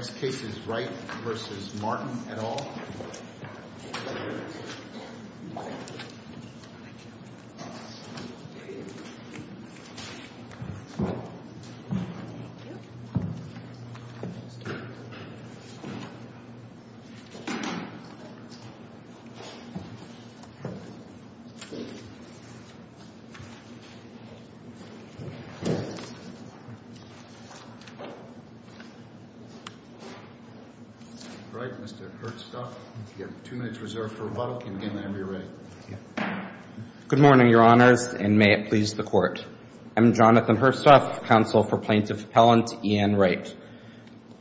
The next case is Wright v. Martin, et al. All right, Mr. Hurstoff, you have two minutes reserved for rebuttal. You can begin whenever you're ready. Good morning, Your Honors, and may it please the Court. I'm Jonathan Hurstoff, counsel for Plaintiff Appellant Ian Wright.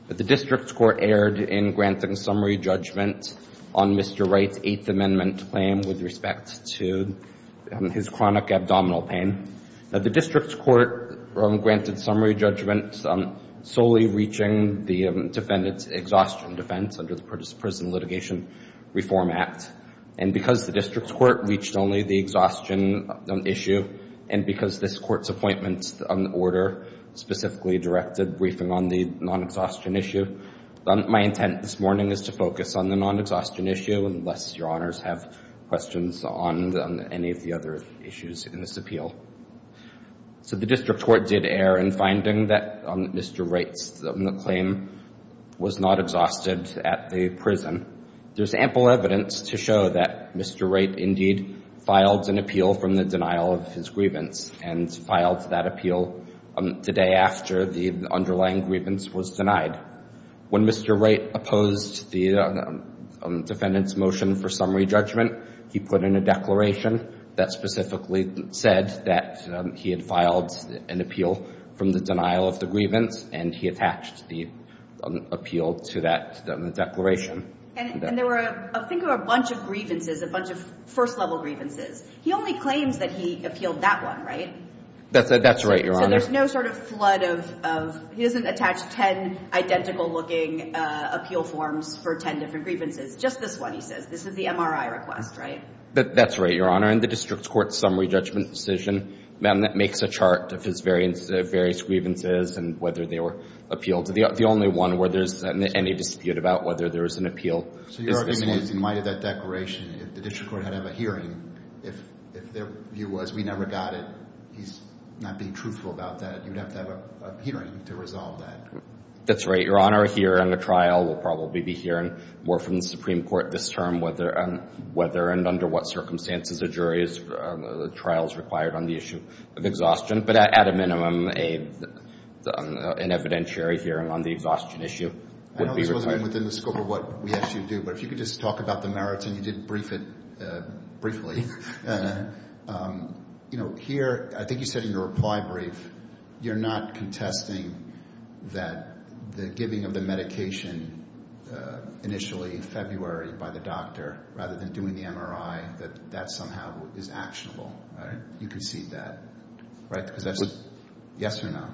The district court erred in granting summary judgment on Mr. Wright's Eighth Amendment claim with respect to his chronic abdominal pain. Now, the district court granted summary judgment solely reaching the defendant's exhaustion defense under the Prison Litigation Reform Act. And because the district court reached only the exhaustion issue and because this Court's appointment on the order specifically directed briefing on the non-exhaustion issue, my intent this morning is to focus on the non-exhaustion issue unless Your Honors have questions on any of the other issues in this appeal. So the district court did err in finding that Mr. Wright's claim was not exhausted at the prison. There's ample evidence to show that Mr. Wright indeed filed an appeal from the denial of his grievance and filed that appeal the day after the underlying grievance was When Mr. Wright opposed the defendant's motion for summary judgment, he put in a that he had filed an appeal from the denial of the grievance, and he attached the appeal to that declaration. And there were, I think, a bunch of grievances, a bunch of first-level grievances. He only claims that he appealed that one, right? That's right, Your Honor. So there's no sort of flood of... He doesn't attach ten identical-looking appeal forms for ten different grievances. Just this one, he says. This is the MRI request, right? That's right, Your Honor. In the district court's summary judgment decision, that makes a chart of his various grievances and whether they were appealed. The only one where there's any dispute about whether there was an appeal is this one. So your argument is, in light of that declaration, if the district court had had a hearing, if their view was, we never got it, he's not being truthful about that, you'd have to have a hearing to resolve that. That's right, Your Honor. Here in the trial, we'll probably be hearing more from the Supreme Court this term on whether and under what circumstances a jury's trial is required on the issue of exhaustion. But at a minimum, an evidentiary hearing on the exhaustion issue would be required. I know this wasn't even within the scope of what we asked you to do, but if you could just talk about the merits, and you did brief it briefly. Here, I think you said in your reply brief, you're not contesting that the giving of the medication initially in February by the doctor, rather than doing the MRI, that that somehow is actionable. You concede that, right? Because that's a yes or no.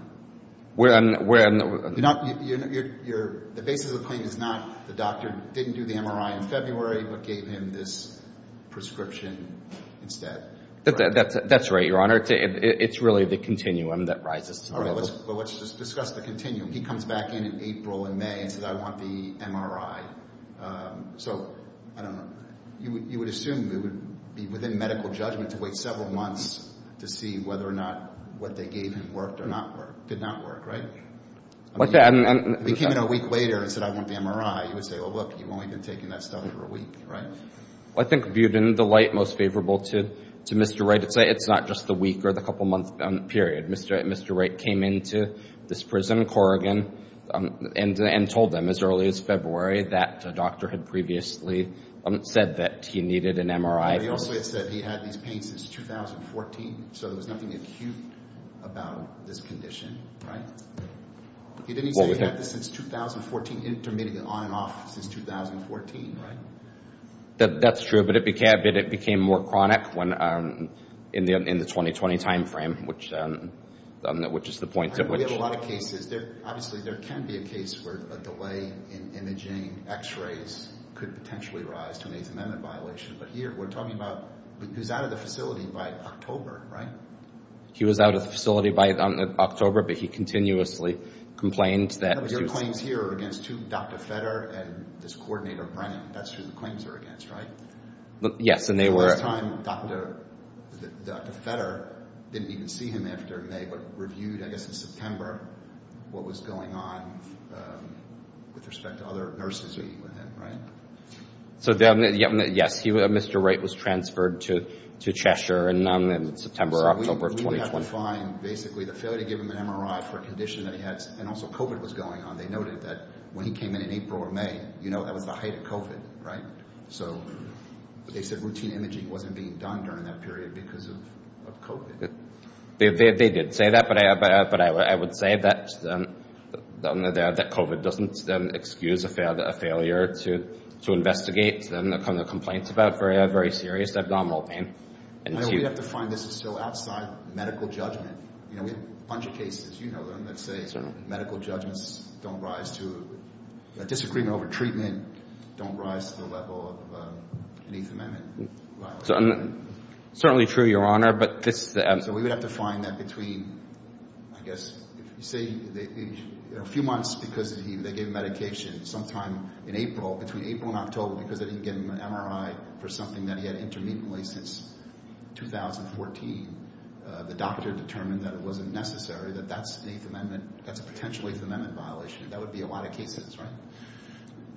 The basis of the claim is not the doctor didn't do the MRI in February, but gave him this prescription instead. That's right, Your Honor. It's really the continuum that rises to the level. All right, well, let's just discuss the continuum. He comes back in in April and May and says, I want the MRI. So, I don't know, you would assume it would be within medical judgment to wait several months to see whether or not what they gave him worked or did not work, right? If he came in a week later and said, I want the MRI, you would say, oh, look, you've only been taking that stuff for a week, right? Well, I think viewed in the light most favorable to Mr. Wright, it's not just the week or the couple month period. Mr. Wright came into this prison, Corrigan, and told them as early as February that a doctor had previously said that he needed an MRI. But he also had said he had these pains since 2014, so there was nothing acute about this condition, right? He didn't say he had this since 2014, intermittently on and off since 2014, right? That's true, but it became more chronic in the 2020 timeframe, which is the point at which... We have a lot of cases. Obviously, there can be a case where a delay in imaging X-rays could potentially rise to an Eighth Amendment violation, but here we're talking about, he was out of the facility by October, right? He was out of the facility by October, but he continuously complained that... The claims here are against Dr. Fetter and his coordinator, Brennan. That's who the claims are against, right? Yes, and they were... The last time, Dr. Fetter didn't even see him after May, but reviewed, I guess, in September what was going on with respect to other nurses with him, right? So, yes, Mr. Wright was transferred to Cheshire in September or October of 2020. So, we would have to find, basically, the failure to give him an MRI for a condition that he had, and also COVID was going on. They noted that when he came in in April or May, that was the height of COVID, right? So, they said routine imaging wasn't being done during that period because of COVID. They did say that, but I would say that COVID doesn't excuse a failure to investigate, and the kind of complaints about very serious abdominal pain. We have to find this is still outside medical judgment. We have a bunch of cases. You know them. Let's say medical judgments don't rise to a disagreement over treatment, don't rise to the level of an Eighth Amendment violation. Certainly true, Your Honor, but this... So, we would have to find that between, I guess, if you say a few months because they gave him medication, sometime in April, between April and October, because they didn't give him an MRI for something that he had intermittently since 2014, the doctor determined that it wasn't necessary, that that's an Eighth Amendment, that's a potential Eighth Amendment violation. That would be a lot of cases, right?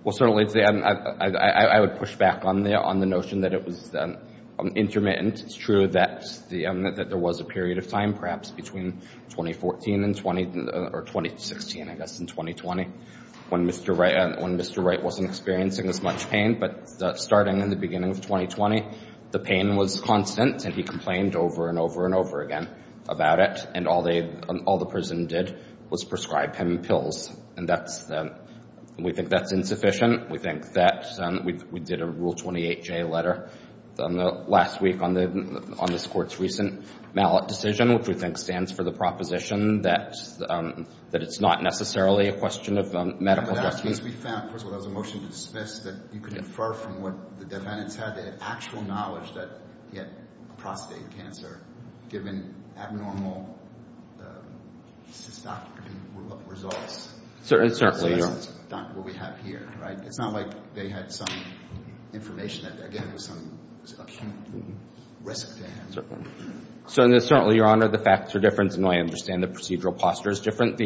Well, certainly, I would push back on the notion that it was intermittent. It's true that there was a period of time, perhaps, between 2014 and 2016, I guess, in 2020, when Mr. Wright wasn't experiencing as much pain, but starting in the beginning of 2020, the pain was constant, and he complained over and over and over again about it, and all the prison did was prescribe him pills, and we think that's insufficient. We think that we did a Rule 28J letter last week on this Court's recent mallet decision, which we think stands for the proposition that it's not necessarily a question of medical questions. But that must be found. First of all, that was a motion to dismiss that you could infer from what the defendants had, they had actual knowledge that he had prostate cancer given abnormal cystography results. Certainly, Your Honor. That's not what we have here, right? It's not like they had some information that, again, was some risk to him. Certainly, Your Honor, the facts are different, and I understand the procedural posture is different,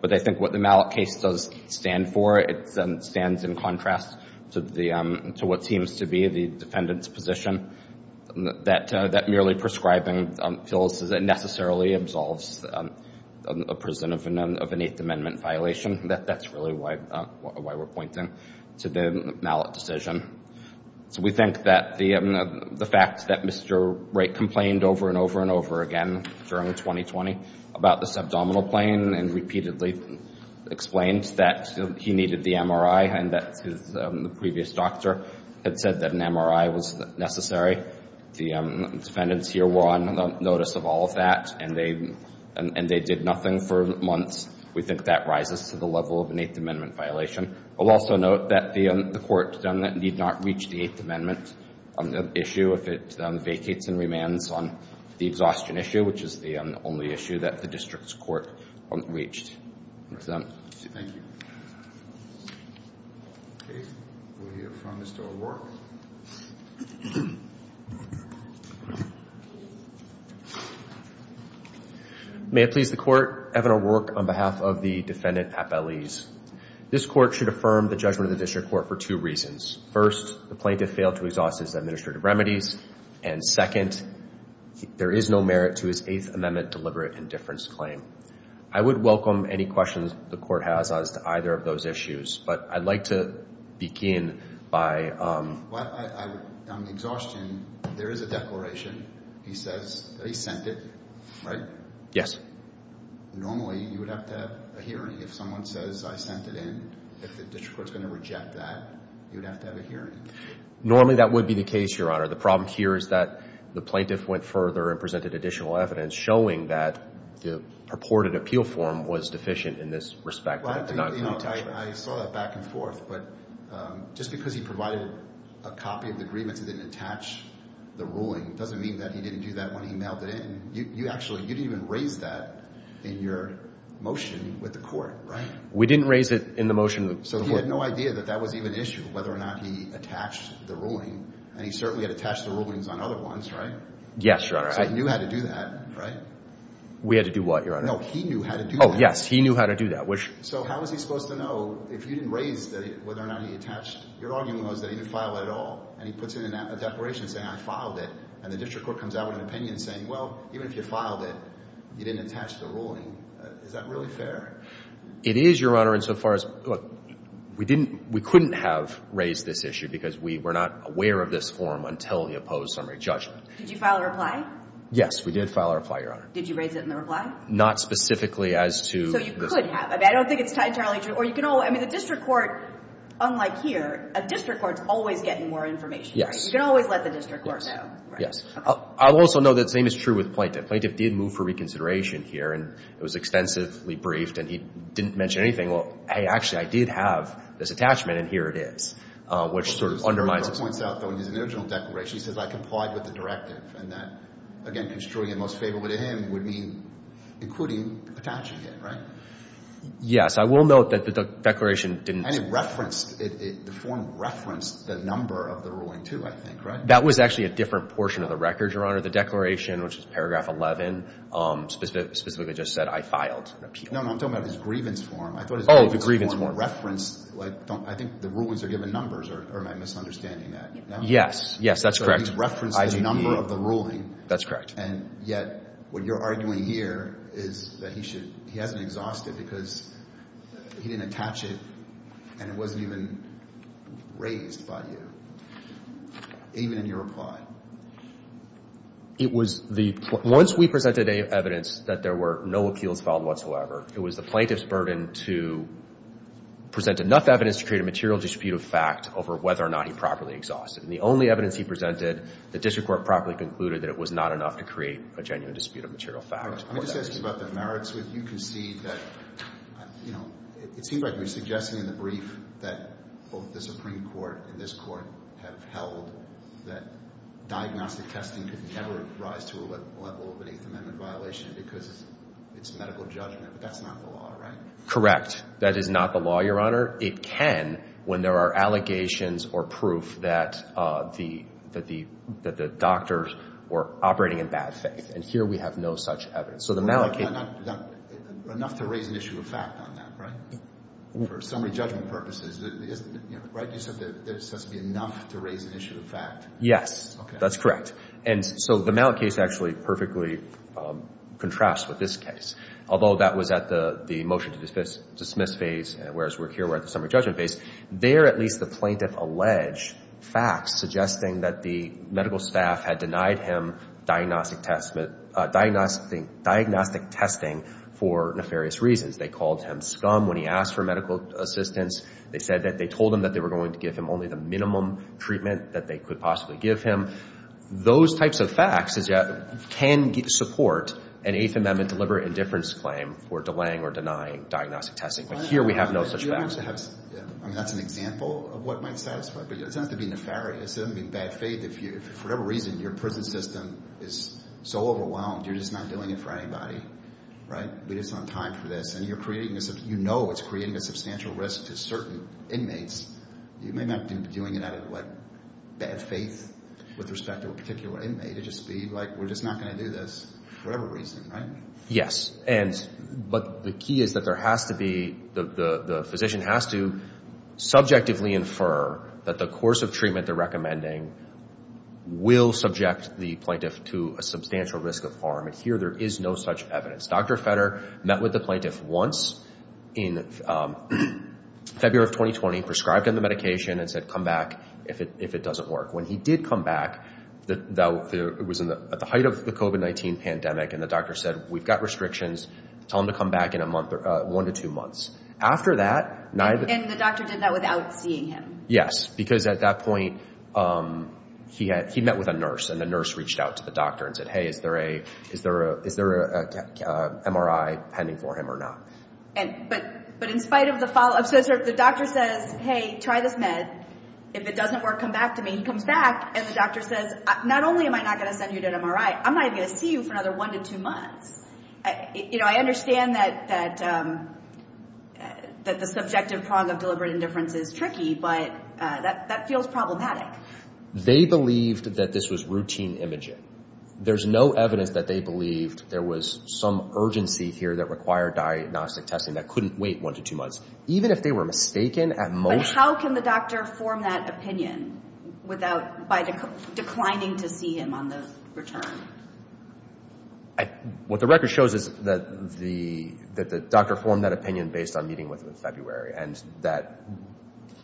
but I think what the mallet case does stand for, it stands in contrast to what seems to be the defendant's position that merely prescribing pills necessarily absolves a prison of an Eighth Amendment violation. That's really why we're pointing to the mallet decision. We think that the fact that Mr. Wright complained over and over and over again during 2020 about this abdominal plane and repeatedly explained that he needed the MRI and that the previous doctor had said that an MRI was necessary. The defendants here were on notice of all of that, and they did nothing for months. We think that rises to the level of an Eighth Amendment violation. I'll also note that the court did not reach the Eighth Amendment issue, if it vacates and remands on the exhaustion issue, which is the only issue that the district's court reached. Thank you. Okay. We have from Mr. O'Rourke. May it please the Court, Evan O'Rourke on behalf of the defendant, Appellees. This court should affirm the judgment of the district court for two reasons. First, the plaintiff failed to exhaust his administrative remedies, and second, there is no merit to his Eighth Amendment deliberate indifference claim. I would welcome any questions the court has as to either of those issues, but I'd like to begin by… Well, on exhaustion, there is a declaration. He says that he sent it, right? Yes. Normally, you would have to have a hearing. If someone says, I sent it in, if the district court is going to reject that, you would have to have a hearing. Normally, that would be the case, Your Honor. The problem here is that the plaintiff went further and presented additional evidence showing that the purported appeal form was deficient in this respect. Well, I think, you know, I saw that back and forth, but just because he provided a copy of the agreements that didn't attach the ruling doesn't mean that he didn't do that when he mailed it in. And you actually didn't even raise that in your motion with the court, right? We didn't raise it in the motion with the court. So he had no idea that that was even an issue, whether or not he attached the ruling. And he certainly had attached the rulings on other ones, right? Yes, Your Honor. So he knew how to do that, right? We had to do what, Your Honor? No, he knew how to do that. Oh, yes. He knew how to do that, which… So how was he supposed to know if you didn't raise whether or not he attached? Your argument was that he didn't file it at all, and he puts it in a declaration saying, I filed it, and the district court comes out with an opinion saying, well, even if you filed it, you didn't attach the ruling. Is that really fair? It is, Your Honor. And so far as – look, we didn't – we couldn't have raised this issue because we were not aware of this form until he opposed summary judgment. Did you file a reply? Yes, we did file a reply, Your Honor. Did you raise it in the reply? Not specifically as to the… So you could have. I mean, I don't think it's entirely true. Or you can always – I mean, the district court, unlike here, a district court is always getting more information, right? Yes. You can always let the district court know, right? I'll also note that the same is true with plaintiff. Plaintiff did move for reconsideration here, and it was extensively briefed, and he didn't mention anything. Well, hey, actually, I did have this attachment, and here it is, which sort of undermines… The court points out, though, in his original declaration, he says, I complied with the directive, and that, again, construing it most favorably to him would mean including attaching it, right? Yes. I will note that the declaration didn't… The form referenced the number of the ruling, too, I think, right? That was actually a different portion of the record, Your Honor. The declaration, which is paragraph 11, specifically just said, I filed an appeal. No, no. I'm talking about his grievance form. Oh, the grievance form. I thought his grievance form referenced – I think the rulings are given numbers, or am I misunderstanding that? Yes. Yes, that's correct. So he referenced the number of the ruling. That's correct. And yet what you're arguing here is that he should – he hasn't exhausted because he didn't attach it, and it wasn't even raised by you, even in your reply. It was the – once we presented evidence that there were no appeals filed whatsoever, it was the plaintiff's burden to present enough evidence to create a material dispute of fact over whether or not he properly exhausted. And the only evidence he presented, the district court properly concluded that it was not enough to create a genuine dispute of material fact. Let me just ask you about the merits. You concede that – you know, it seems like you're suggesting in the brief that both the Supreme Court and this Court have held that diagnostic testing could never rise to a level of an Eighth Amendment violation because it's medical judgment. But that's not the law, right? Correct. That is not the law, Your Honor. It can when there are allegations or proof that the doctors were operating in bad faith. And here we have no such evidence. So the Malik case – Enough to raise an issue of fact on that, right? For summary judgment purposes, right? You said there has to be enough to raise an issue of fact. Yes, that's correct. And so the Malik case actually perfectly contrasts with this case. Although that was at the motion to dismiss phase, whereas here we're at the summary judgment phase, there at least the plaintiff alleged facts suggesting that the medical staff had denied him diagnostic testing for nefarious reasons. They called him scum when he asked for medical assistance. They said that they told him that they were going to give him only the minimum treatment that they could possibly give him. Those types of facts can support an Eighth Amendment deliberate indifference claim for delaying or denying diagnostic testing. But here we have no such facts. I mean, that's an example of what might satisfy. But it doesn't have to be nefarious. For whatever reason, your prison system is so overwhelmed, you're just not doing it for anybody, right? We just don't have time for this. And you know it's creating a substantial risk to certain inmates. You may not be doing it out of, what, bad faith with respect to a particular inmate. It'd just be like, we're just not going to do this for whatever reason, right? Yes. But the key is that there has to be – the physician has to subjectively infer that the course of treatment they're recommending will subject the plaintiff to a substantial risk of harm. And here there is no such evidence. Dr. Fetter met with the plaintiff once in February of 2020, prescribed him the medication, and said, come back if it doesn't work. When he did come back, it was at the height of the COVID-19 pandemic, and the doctor said, we've got restrictions. Tell him to come back in one to two months. After that – And the doctor did that without seeing him. Yes, because at that point he met with a nurse, and the nurse reached out to the doctor and said, hey, is there an MRI pending for him or not? But in spite of the follow-up, so the doctor says, hey, try this med. If it doesn't work, come back to me. He comes back, and the doctor says, not only am I not going to send you to an MRI, I'm not even going to see you for another one to two months. You know, I understand that the subjective prong of deliberate indifference is tricky, but that feels problematic. They believed that this was routine imaging. There's no evidence that they believed there was some urgency here that required diagnostic testing that couldn't wait one to two months, even if they were mistaken at most. But how can the doctor form that opinion by declining to see him on the return? What the record shows is that the doctor formed that opinion based on meeting with him in February and that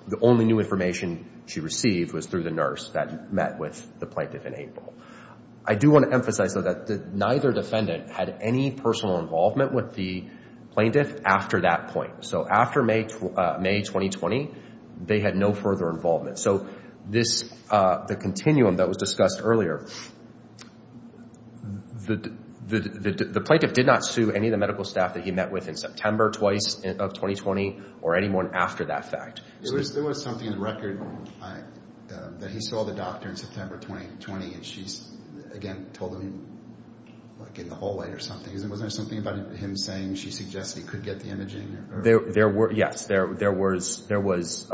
the only new information she received was through the nurse that met with the plaintiff in April. I do want to emphasize, though, that neither defendant had any personal involvement with the plaintiff after that point. So after May 2020, they had no further involvement. So the continuum that was discussed earlier, the plaintiff did not sue any of the medical staff that he met with in September twice of 2020 or anyone after that fact. There was something in the record that he saw the doctor in September 2020, and she, again, told him in the hallway or something. Wasn't there something about him saying she suggested he could get the imaging? Yes, there was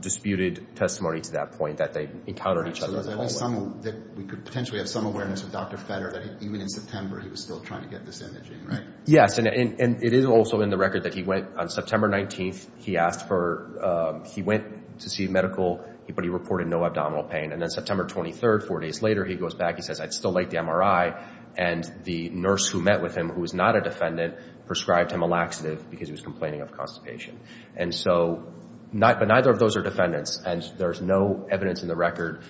disputed testimony to that point that they encountered each other in the hallway. We could potentially have some awareness of Dr. Fetter that even in September he was still trying to get this imaging, right? Yes, and it is also in the record that he went on September 19th. He went to see a medical, but he reported no abdominal pain. And then September 23rd, four days later, he goes back. He says, I'd still like the MRI. And the nurse who met with him, who was not a defendant, prescribed him a laxative because he was complaining of constipation. And so neither of those are defendants. And there's no evidence in the record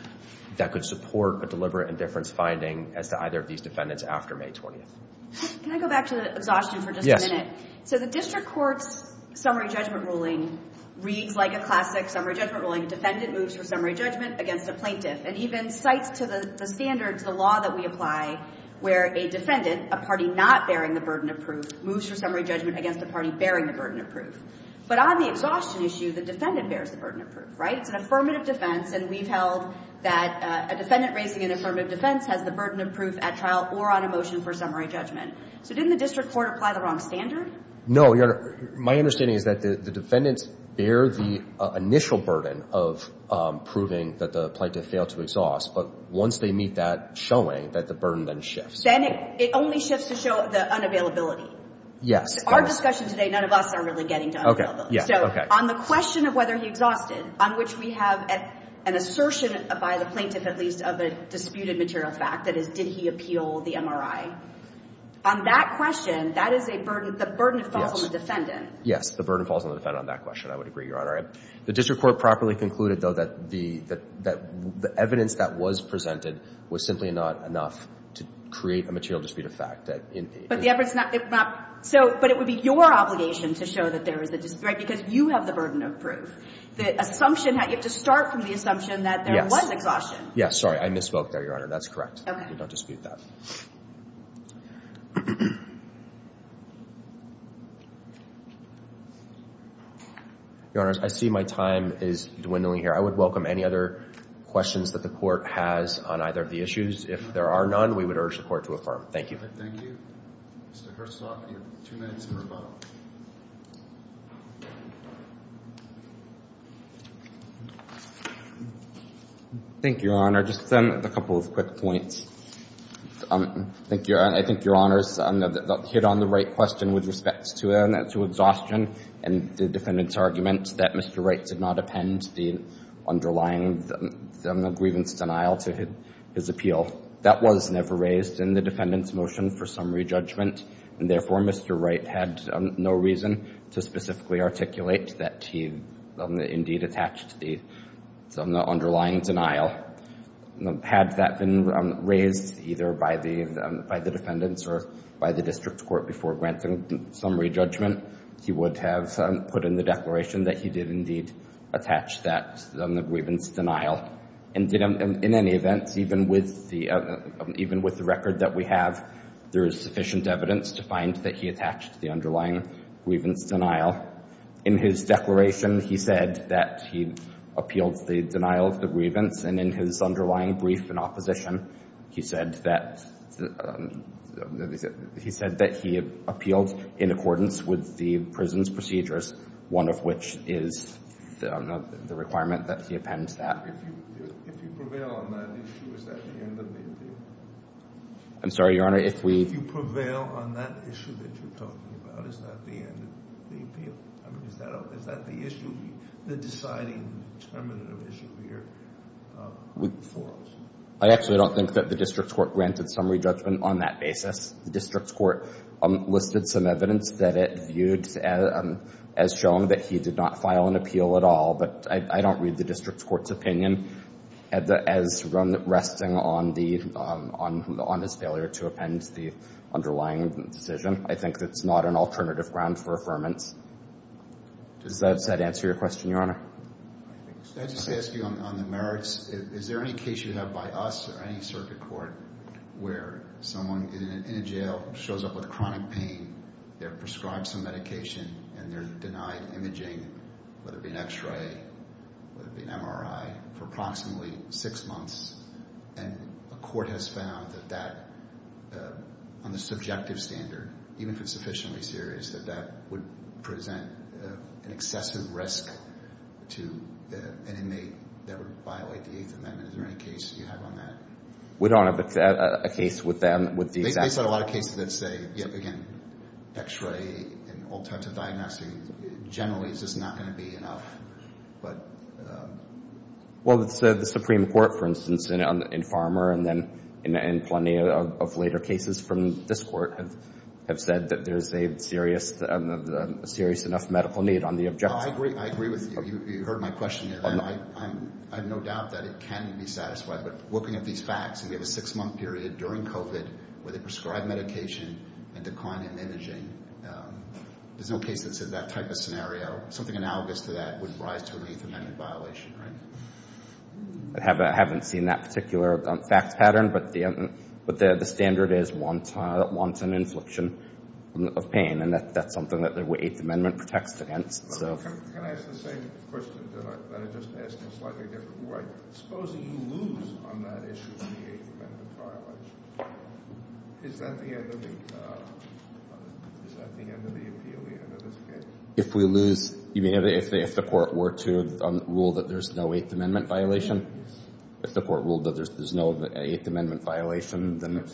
that could support a deliberate indifference finding as to either of these defendants after May 20th. Can I go back to the exhaustion for just a minute? So the district court's summary judgment ruling reads like a classic summary judgment ruling. Defendant moves for summary judgment against a plaintiff. And even cites to the standards, the law that we apply, where a defendant, a party not bearing the burden of proof, moves for summary judgment against a party bearing the burden of proof. But on the exhaustion issue, the defendant bears the burden of proof, right? It's an affirmative defense, and we've held that a defendant raising an affirmative defense has the burden of proof at trial or on a motion for summary judgment. So didn't the district court apply the wrong standard? No, Your Honor. My understanding is that the defendants bear the initial burden of proving that the plaintiff failed to exhaust. But once they meet that showing, that the burden then shifts. Then it only shifts to show the unavailability. Yes. Our discussion today, none of us are really getting to unveil those. Okay. So on the question of whether he exhausted, on which we have an assertion by the plaintiff, at least, of a disputed material fact, that is, did he appeal the MRI, on that question, that is a burden. The burden falls on the defendant. The burden falls on the defendant on that question. I would agree, Your Honor. The district court properly concluded, though, that the evidence that was presented was simply not enough to create a material disputed fact. But the evidence is not. But it would be your obligation to show that there is a dispute, right? Because you have the burden of proof. The assumption that you have to start from the assumption that there was exhaustion. Yes. Sorry. I misspoke there, Your Honor. That's correct. Okay. We don't dispute that. Your Honors, I see my time is dwindling here. I would welcome any other questions that the court has on either of the issues. If there are none, we would urge the court to affirm. Thank you. Thank you. Mr. Herzog, you have two minutes for a vote. Thank you, Your Honor. Just a couple of quick points. I think Your Honor's hit on the right question with respect to exhaustion and the defendant's argument that Mr. Wright did not append the underlying grievance denial to his appeal. That was never raised in the defendant's motion for summary judgment. And therefore, Mr. Wright had no reason to specifically articulate that he indeed attached the underlying denial. Had that been raised either by the defendants or by the district court before granting summary judgment, he would have put in the declaration that he did indeed attach that grievance denial. And in any event, even with the record that we have, there is sufficient evidence to find that he attached the underlying grievance denial. In his declaration, he said that he appealed the denial of the grievance. And in his underlying brief in opposition, he said that he appealed in accordance with the prison's procedures, one of which is the requirement that he append that. If you prevail on that issue, is that the end of the appeal? I'm sorry, Your Honor. If you prevail on that issue that you're talking about, is that the end of the appeal? I mean, is that the issue, the deciding determinant of issue here for us? I actually don't think that the district court granted summary judgment on that basis. The district court listed some evidence that it viewed as showing that he did not file an appeal at all. But I don't read the district court's opinion as resting on his failure to append the underlying decision. I think that's not an alternative ground for affirmance. Does that answer your question, Your Honor? Can I just ask you on the merits? Is there any case you have by us or any circuit court where someone in a jail shows up with chronic pain, they're prescribed some medication, and they're denied imaging, whether it be an X-ray, whether it be an MRI, for approximately six months, and a court has found that that, on the subjective standard, even if it's sufficiently serious, that that would present an excessive risk to an inmate that would violate the Eighth Amendment? Is there any case you have on that? We don't have a case with them, with these actors. I saw a lot of cases that say, again, X-ray and alternative diagnoses generally is just not going to be enough. Well, the Supreme Court, for instance, in Farmer and then in plenty of later cases from this court, have said that there's a serious enough medical need on the objection. I agree with you. You heard my question. I have no doubt that it can be satisfied. But looking at these facts, and we have a six-month period during COVID where they prescribe medication and decline in imaging, there's no case that says that type of scenario. Something analogous to that would rise to an Eighth Amendment violation, right? I haven't seen that particular fact pattern, but the standard is wanton infliction of pain, and that's something that the Eighth Amendment protects against. Can I ask the same question, but I'm just asking a slightly different one? Suppose that you lose on that issue of the Eighth Amendment violation. Is that the end of the appeal, the end of this case? If we lose, you mean if the court were to rule that there's no Eighth Amendment violation? Yes. If the court ruled that there's no Eighth Amendment violation, then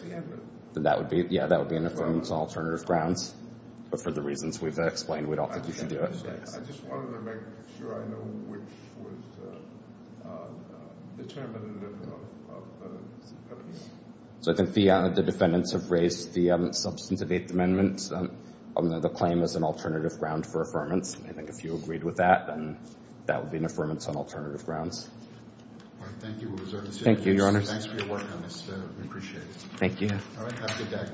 that would be an affirmative alternative grounds. But for the reasons we've explained, we don't think you should do it. I just wanted to make sure I know which was determinative of the appeal. So I think the defendants have raised the substantive Eighth Amendment. The claim is an alternative ground for affirmance. I think if you agreed with that, then that would be an affirmance on alternative grounds. All right, thank you. Thank you, Your Honor. Thanks for your work on this. We appreciate it. Thank you. All right, have a good day.